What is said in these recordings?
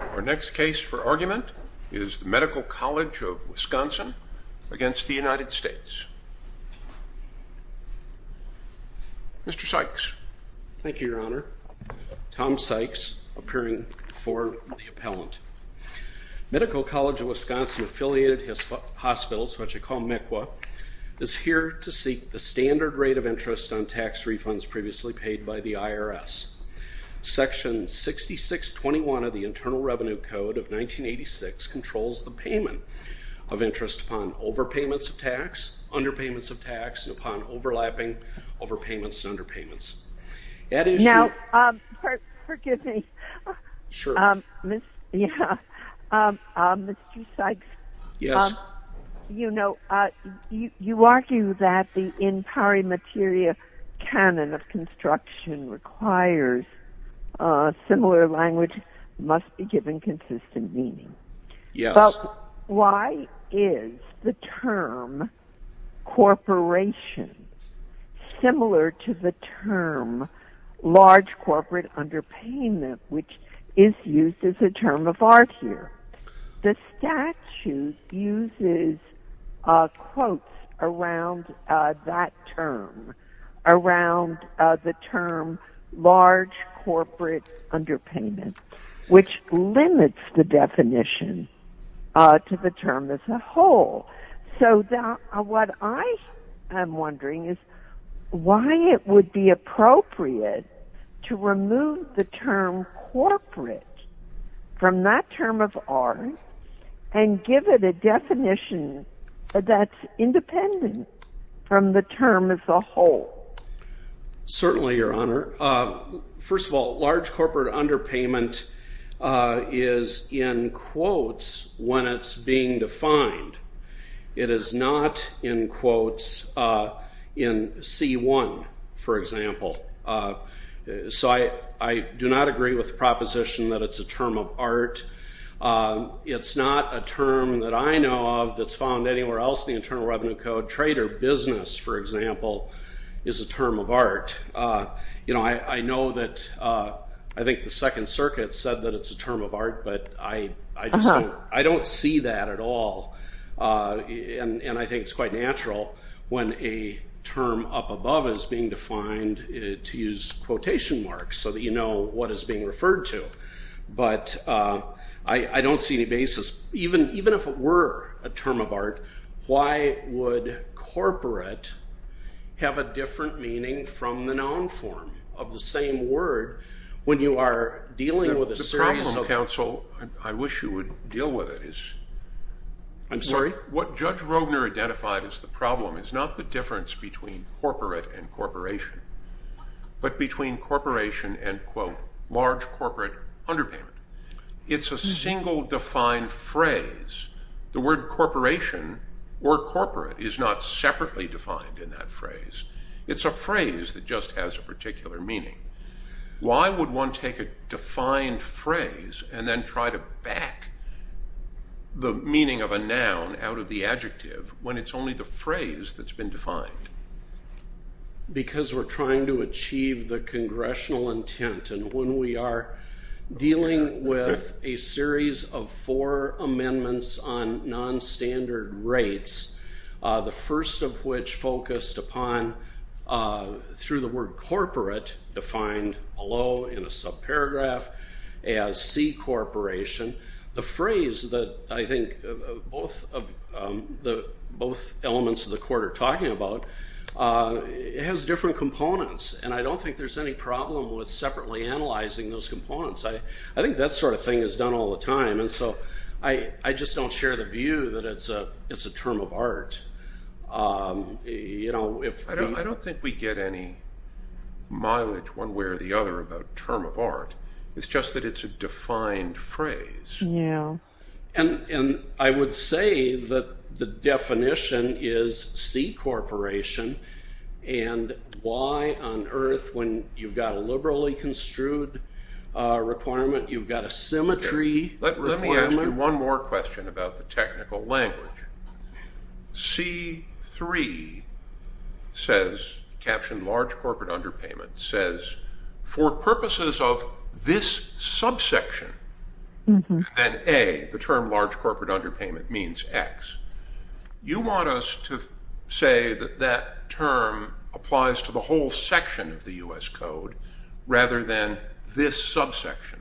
Our next case for argument is the Medical College of Wisconsin against the United States. Mr. Sykes. Thank you, your honor. Tom Sykes, appearing for the appellant. Medical College of Wisconsin affiliated hospitals, what you call MECWA, is here to seek the standard rate of interest on tax refunds previously paid by the IRS. Section 6621 of the Internal Revenue Code of 1986 controls the payment of interest upon overpayments of tax, underpayments of tax, and upon overlapping overpayments and underpayments. Now, forgive me, Mr. Sykes. Yes. You know, you argue that the In Pari Materia canon of construction requires similar language must be given consistent meaning. Yes. But why is the term corporation similar to the term large corporate underpayment, which is used as a term of art here? The statute uses quotes around that term, around the term large corporate underpayment, which limits the definition to the term as a whole. So what I am wondering is why it would be appropriate to remove the term corporate from that term of art and give it a definition that's independent from the term as a whole. Certainly, your honor. First of all, large corporate underpayment is in quotes when it's being defined. It is not in quotes in C1, for example. So I do not agree with the proposition that it's a term of art. It's not a term that I know of that's found anywhere else in the Internal Revenue Code. Trader business, for example, is a term of art. You know, I know that I think the Second Circuit said that it's a term of art, but I don't see that at all. And I think it's quite natural when a term up above is being defined to use quotation marks so that you know what is being referred to. But I don't see any basis. Even if it were a term of art, why would corporate have a different meaning from the known form of the same word when you are dealing with a series of- The problem, counsel, I wish you would deal with it, is- I'm sorry? What Judge Rogner identified as the problem is not the difference between corporate and corporation, but between corporation and quote large corporate underpayment. It's a single defined phrase. The word corporation or corporate is not separately defined in that phrase. It's a phrase that just has a particular meaning. Why would one take a defined phrase and then try to back the meaning of a noun out of the adjective when it's only the phrase that's been defined? Because we're trying to achieve the congressional intent and when we are a series of four amendments on non-standard rates, the first of which focused upon, through the word corporate defined below in a subparagraph as C corporation, the phrase that I think both elements of the court are talking about, it has different components and I don't think there's any problem with separately analyzing those components. I think that sort of thing is done all the time and so I just don't share the view that it's a term of art. I don't think we get any mileage one way or the other about term of art. It's just that it's a defined phrase. I would say that the definition is C corporation and why on earth when you've got a liberally construed requirement, you've got a symmetry. Let me ask you one more question about the technical language. C3 says, captioned large corporate underpayment, says for purposes of this subsection and A, the term large corporate underpayment means X, you want us to say that term applies to the whole section of the U.S. Code rather than this subsection.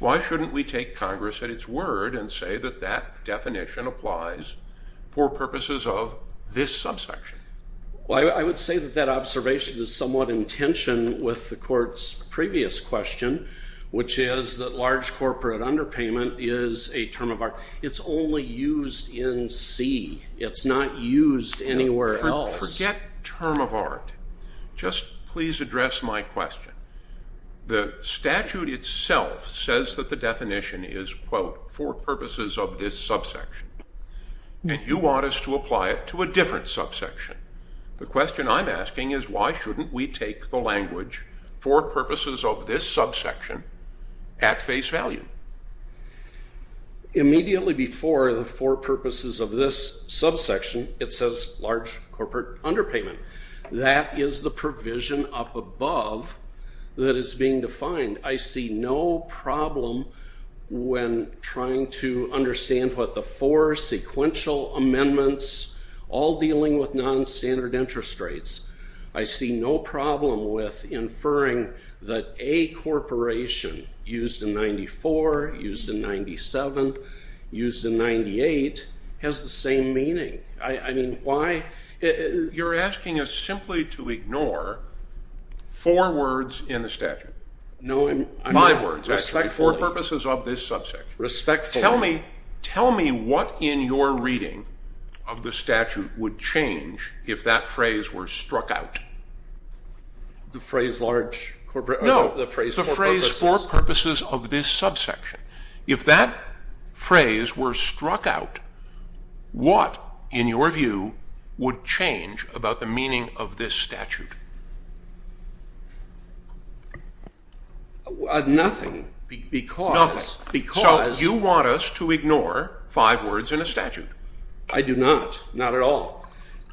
Why shouldn't we take Congress at its word and say that that definition applies for purposes of this subsection? Well, I would say that that observation is somewhat in tension with the court's previous question, which is that large corporate underpayment is a term of art. It's only used in C. It's not used anywhere else. Forget term of art. Just please address my question. The statute itself says that the definition is, quote, for purposes of this subsection and you want us to apply it to a different subsection. The question I'm asking is why shouldn't we take the language for purposes of this subsection at face value? Immediately before the for purposes of this subsection, it says large corporate underpayment. That is the provision up above that is being defined. I see no problem when trying to understand what the four sequential amendments, all dealing with non-standard interest rates. I see no problem with inferring that a corporation used in 94, used in 97, used in 98 has the same meaning. I mean, why? You're asking us simply to ignore four words in the statute. My words, actually, for purposes of this subsection. Tell me what in your reading of the statute would change if that phrase were struck out. The phrase large corporate? No, the phrase for purposes of this subsection. If that phrase were struck out, what, in your view, would change about the meaning of this statute? Nothing, because. So you want us to ignore five words in a statute? I do not, not at all.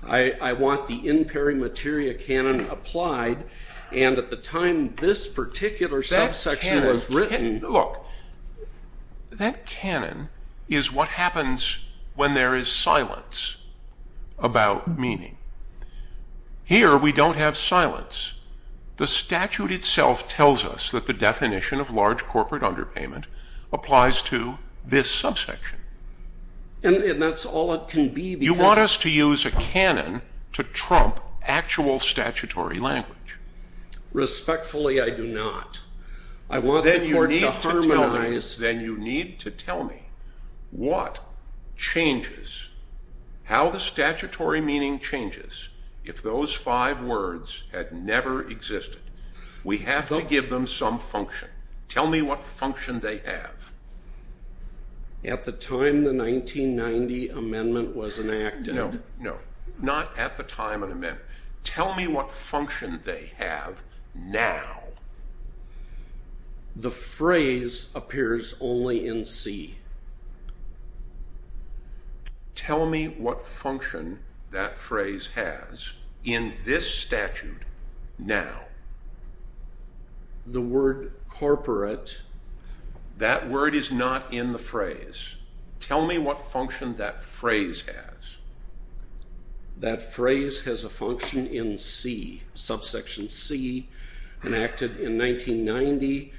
I want the in peri materia canon applied and at the time this particular subsection was written. Look, that canon is what happens when there is silence about meaning. Here, we don't have silence. The statute itself tells us that the definition of large corporate underpayment applies to this subsection. And that's all it can be because. You want us to use a canon to trump actual statutory language. Respectfully, I do not. I want the court to harmonize. Then you need to tell me what changes, how the statutory meaning changes, if those five words had never existed. We have to give them some function. Tell me what function they have. At the time the 1990 amendment was enacted. No, no, not at the time of the amendment. Tell me what function they have now. The phrase appears only in C. Tell me what function that phrase has in this statute now. The word corporate. That word is not in the phrase. Tell me what function that phrase has. That phrase has a function in C, subsection C, enacted in 1990.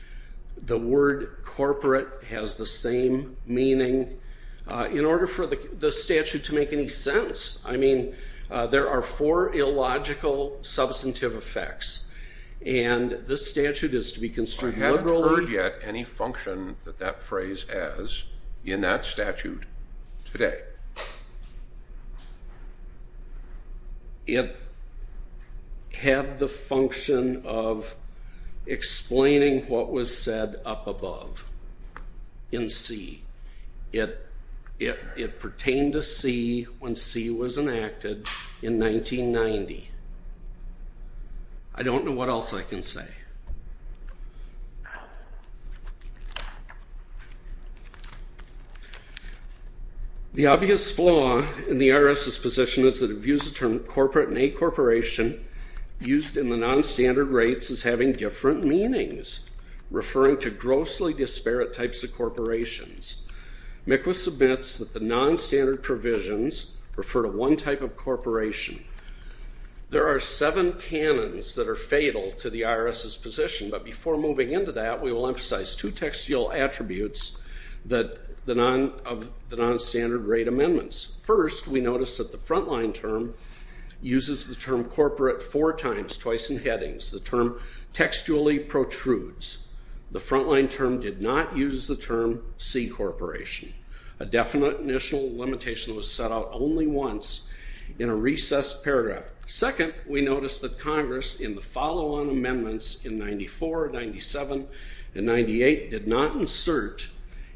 The word corporate has the same meaning. In order for the statute to make any sense, I mean, there are four illogical substantive effects. And this statute is to be construed. I haven't heard yet any function that that phrase has in that statute today. It had the function of explaining what was said up above in C. It pertained to C when C was enacted in 1990. I don't know what else I can say. The obvious flaw in the IRS's position is that it views the term corporate and a corporation used in the non-standard rates as having different meanings, referring to grossly disparate types of corporations. MCWIS admits that the non-standard provisions refer to one type of corporation. There are seven canons that are fatal to the IRS's position, but before moving into that, we will emphasize two textual attributes of the non-standard rate amendments. First, we notice that Congress in the follow-on amendments in 94, 97, and 98 did not insert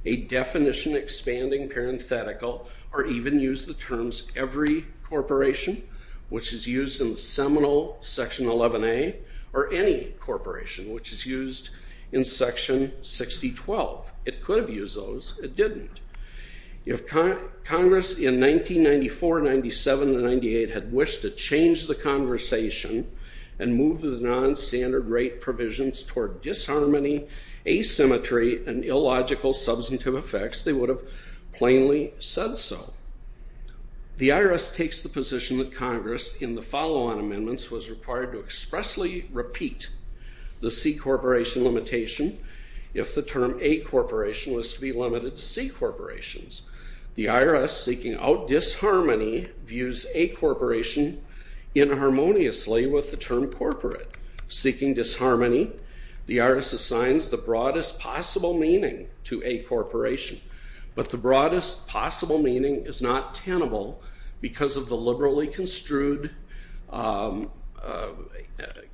a definition 11A or any corporation which is used in section 6012. It could have used those. It didn't. If Congress in 1994, 97, and 98 had wished to change the conversation and move the non-standard rate provisions toward disharmony, asymmetry, and illogical substantive effects, they would have plainly said so. The IRS takes the position that Congress in the follow-on amendments was required to expressly repeat the C corporation limitation if the term A corporation was to be limited to C corporations. The IRS, seeking out disharmony, views A corporation inharmoniously with the term corporate. Seeking disharmony, the IRS assigns the broadest possible meaning to A corporation, but the broadest possible meaning is not tenable because of the liberally construed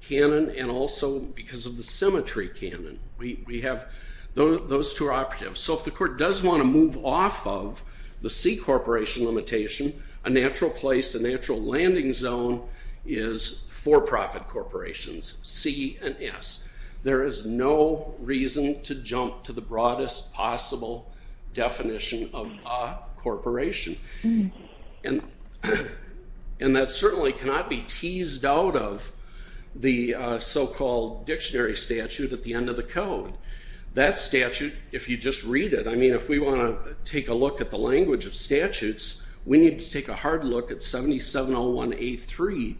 canon and also because of the symmetry canon. We have those two operatives, so if the court does want to move off of the C corporation limitation, a natural place, a natural landing zone is for-profit corporations, C and S. There is no reason to jump to the broadest possible definition of A corporation, and that certainly cannot be teased out of the so-called dictionary statute at the end of the code. That statute, if you just read it, I mean if we want to take a look at the language of statutes, we need to take a hard look at 7701A3,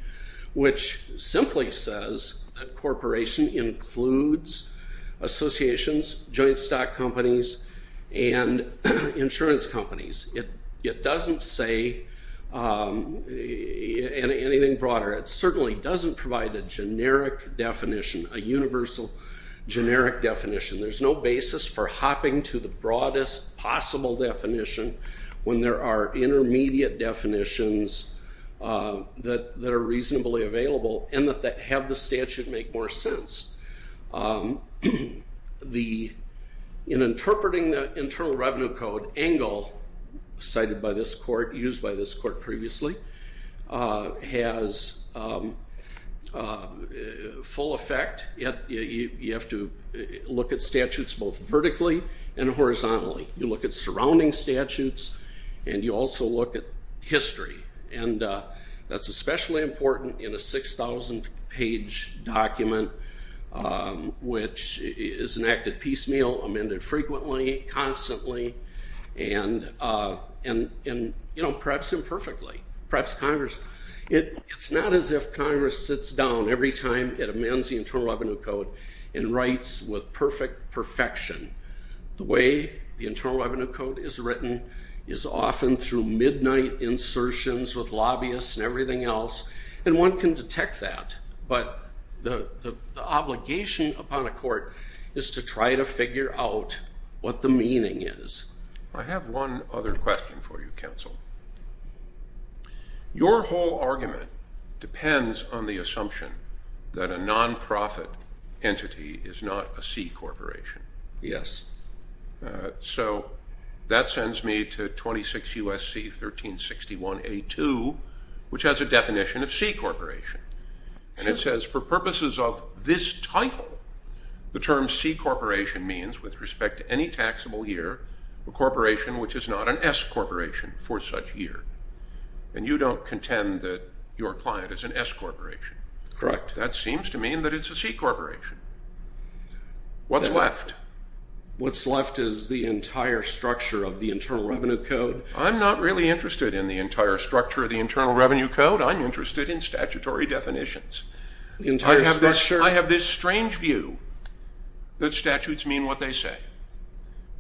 which simply says a corporation includes associations, joint stock companies, and insurance companies. It doesn't say anything broader. It certainly doesn't provide a generic definition, a universal generic definition. There's no basis for hopping to the broadest possible definition when there are intermediate definitions that are reasonably available and that have the statute make more sense. In interpreting the Internal Revenue Code angle cited by this court, used by this court look at statutes both vertically and horizontally. You look at surrounding statutes, and you also look at history, and that's especially important in a 6,000 page document, which is enacted piecemeal, amended frequently, constantly, and perhaps imperfectly. Perhaps Congress, it's not as if Congress sits down every time it amends the Internal Revenue Code and writes with perfect perfection. The way the Internal Revenue Code is written is often through midnight insertions with lobbyists and everything else, and one can detect that, but the obligation upon a court is to try to figure out what the meaning is. I have one other question for you, is not a C corporation. Yes. So that sends me to 26 U.S.C. 1361A2, which has a definition of C corporation, and it says for purposes of this title, the term C corporation means, with respect to any taxable year, a corporation which is not an S corporation for such year, and you don't contend that your client is an S corporation. Correct. That seems to mean that it's a C corporation. What's left? What's left is the entire structure of the Internal Revenue Code. I'm not really interested in the entire structure of the Internal Revenue Code. I'm interested in statutory definitions. I have this strange view that statutes mean what they say,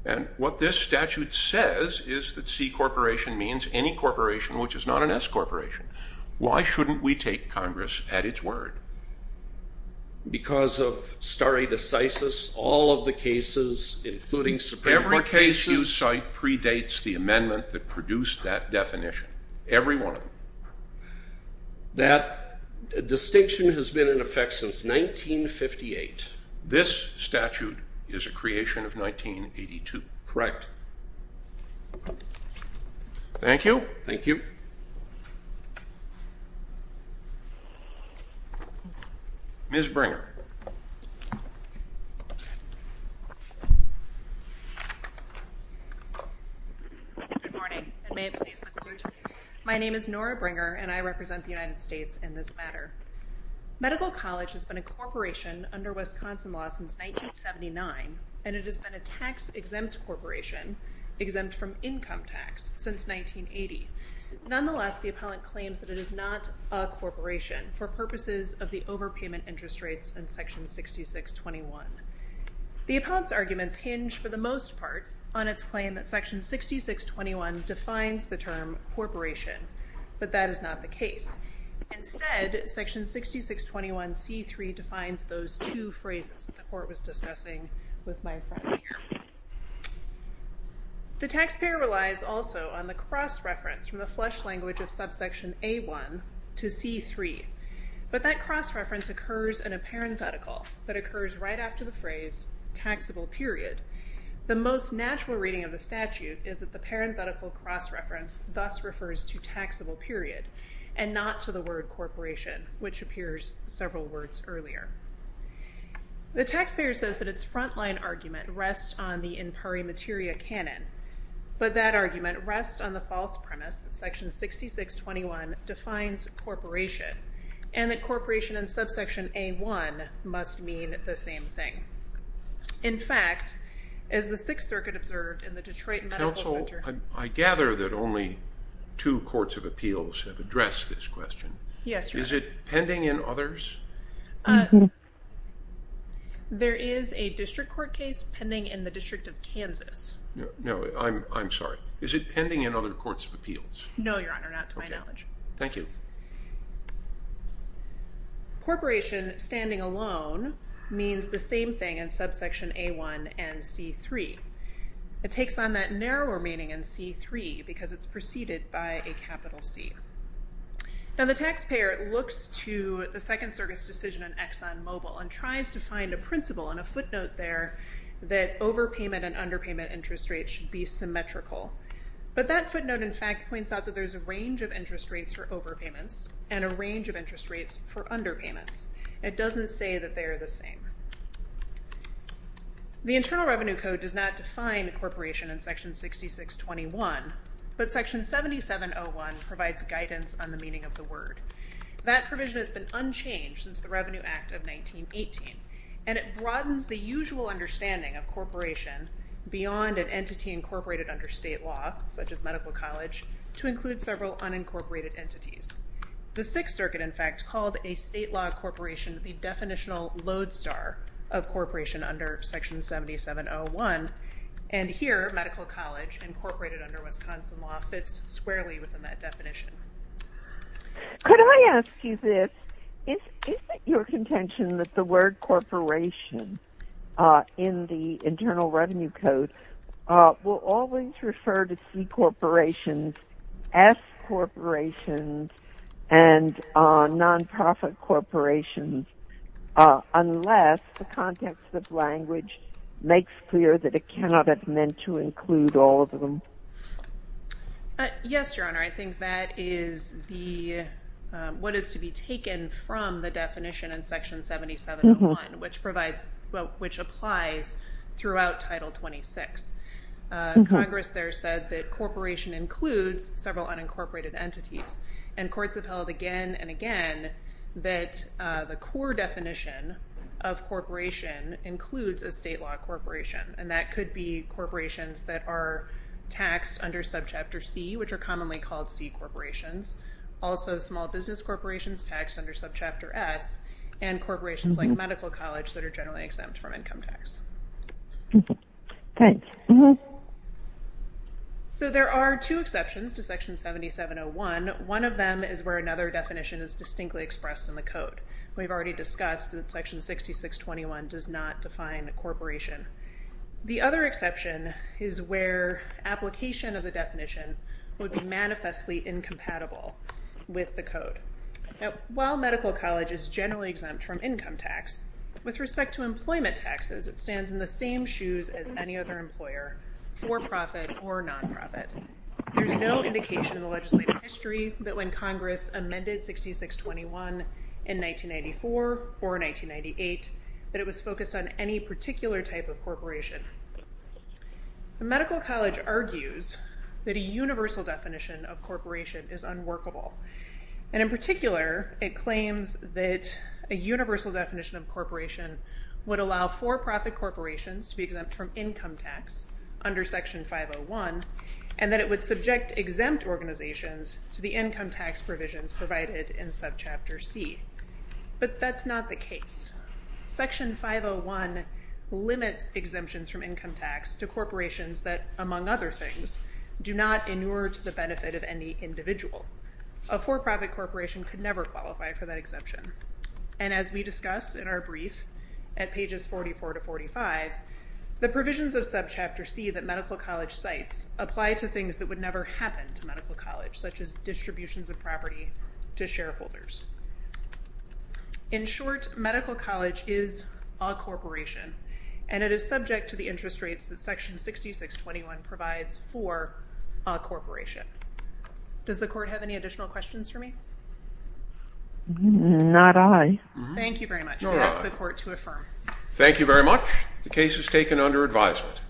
and what this statute says is that C corporation means any corporation which is not an S corporation. Why shouldn't we take Congress at its word? Because of stare decisis, all of the cases, including Supreme Court cases. Every case you cite predates the amendment that produced that definition. Every one of them. That distinction has been in Congress. Thank you. Thank you. Ms. Bringer. Good morning. My name is Nora Bringer, and I represent the United States in this matter. Medical College has been a corporation under Wisconsin law since 1979, and it has been a tax exempt corporation, exempt from income tax since 1980. Nonetheless, the appellant claims that it is not a corporation for purposes of the overpayment interest rates in section 6621. The appellant's arguments hinge for the most part on its claim that section 6621 defines the term corporation, but that is not the case. Instead, section 6621c3 defines those two phrases that the court was referring to. The taxpayer relies also on the cross-reference from the flesh language of subsection A1 to C3, but that cross-reference occurs in a parenthetical that occurs right after the phrase taxable period. The most natural reading of the statute is that the parenthetical cross-reference thus refers to taxable period and not to the word corporation, which appears several words earlier. The taxpayer says that its frontline argument rests on the in pari materia canon, but that argument rests on the false premise that section 6621 defines corporation, and that corporation and subsection A1 must mean the same thing. In fact, as the Sixth Circuit observed in the Detroit Medical Center... Counsel, I gather that only two courts of appeals have addressed this question. Yes, Your Honor. Is it pending in others? There is a district court case pending in the District of Kansas. No, I'm sorry. Is it pending in other courts of appeals? No, Your Honor, not to my knowledge. Thank you. Corporation standing alone means the same thing in subsection A1 and C3. It takes on that narrower meaning in C3 because it's preceded by a capital C. Now, the taxpayer looks to the Second Circuit's decision in ExxonMobil and tries to find a principle and a footnote there that overpayment and underpayment interest rates should be symmetrical, but that footnote, in fact, points out that there's a range of interest rates for overpayments and a range of interest rates for underpayments. It doesn't say that they are the same. The Internal Revenue Code does not define incorporation in Section 6621, but Section 7701 provides guidance on the meaning of the word. That provision has been unchanged since the Revenue Act of 1918, and it broadens the usual understanding of corporation beyond an entity incorporated under state law, such as medical college, to include several unincorporated entities. The Sixth Circuit, in fact, called a medical college incorporated under Wisconsin law fits squarely within that definition. Could I ask you this? Is it your contention that the word corporation in the Internal Revenue Code will always refer to C corporations, S corporations, and non-profit corporations, unless the context of language makes clear that it cannot have meant to include all of them? Yes, Your Honor. I think that is what is to be taken from the definition in Section 7701, which applies throughout Title 26. Congress there said that corporation includes several unincorporated entities, and courts have held again and again that the core definition of corporation includes a state law corporation, and that could be corporations that are taxed under Subchapter C, which are commonly called C corporations, also small business corporations taxed under Subchapter S, and corporations like medical college that are generally exempt from Section 7701, one of them is where another definition is distinctly expressed in the Code. We've already discussed that Section 6621 does not define a corporation. The other exception is where application of the definition would be manifestly incompatible with the Code. Now, while medical college is generally exempt from income tax, with respect to employment taxes, it stands in the same shoes as any other employer, for-profit or non-profit. There's no indication in the legislative history that when Congress amended 6621 in 1994 or 1998, that it was focused on any particular type of corporation. The medical college argues that a universal definition of corporation is unworkable, and in particular, it claims that a universal definition of corporation would allow for-profit corporations to be exempt from income tax under Section 501, and that it would subject exempt organizations to the income tax provisions provided in Subchapter C. But that's not the case. Section 501 limits exemptions from income tax to corporations that, among other things, do not inure to the benefit of any individual. A for-profit corporation could never qualify for that exemption, and as we discuss in our brief at pages 44 to 45, the provisions of Subchapter C that medical college cites apply to things that would never happen to medical college, such as distributions of property to shareholders. In short, medical college is a corporation, and it is subject to the interest rates that me. Not I. Thank you very much. I'll ask the court to affirm. Thank you very much. The case is taken under advisement.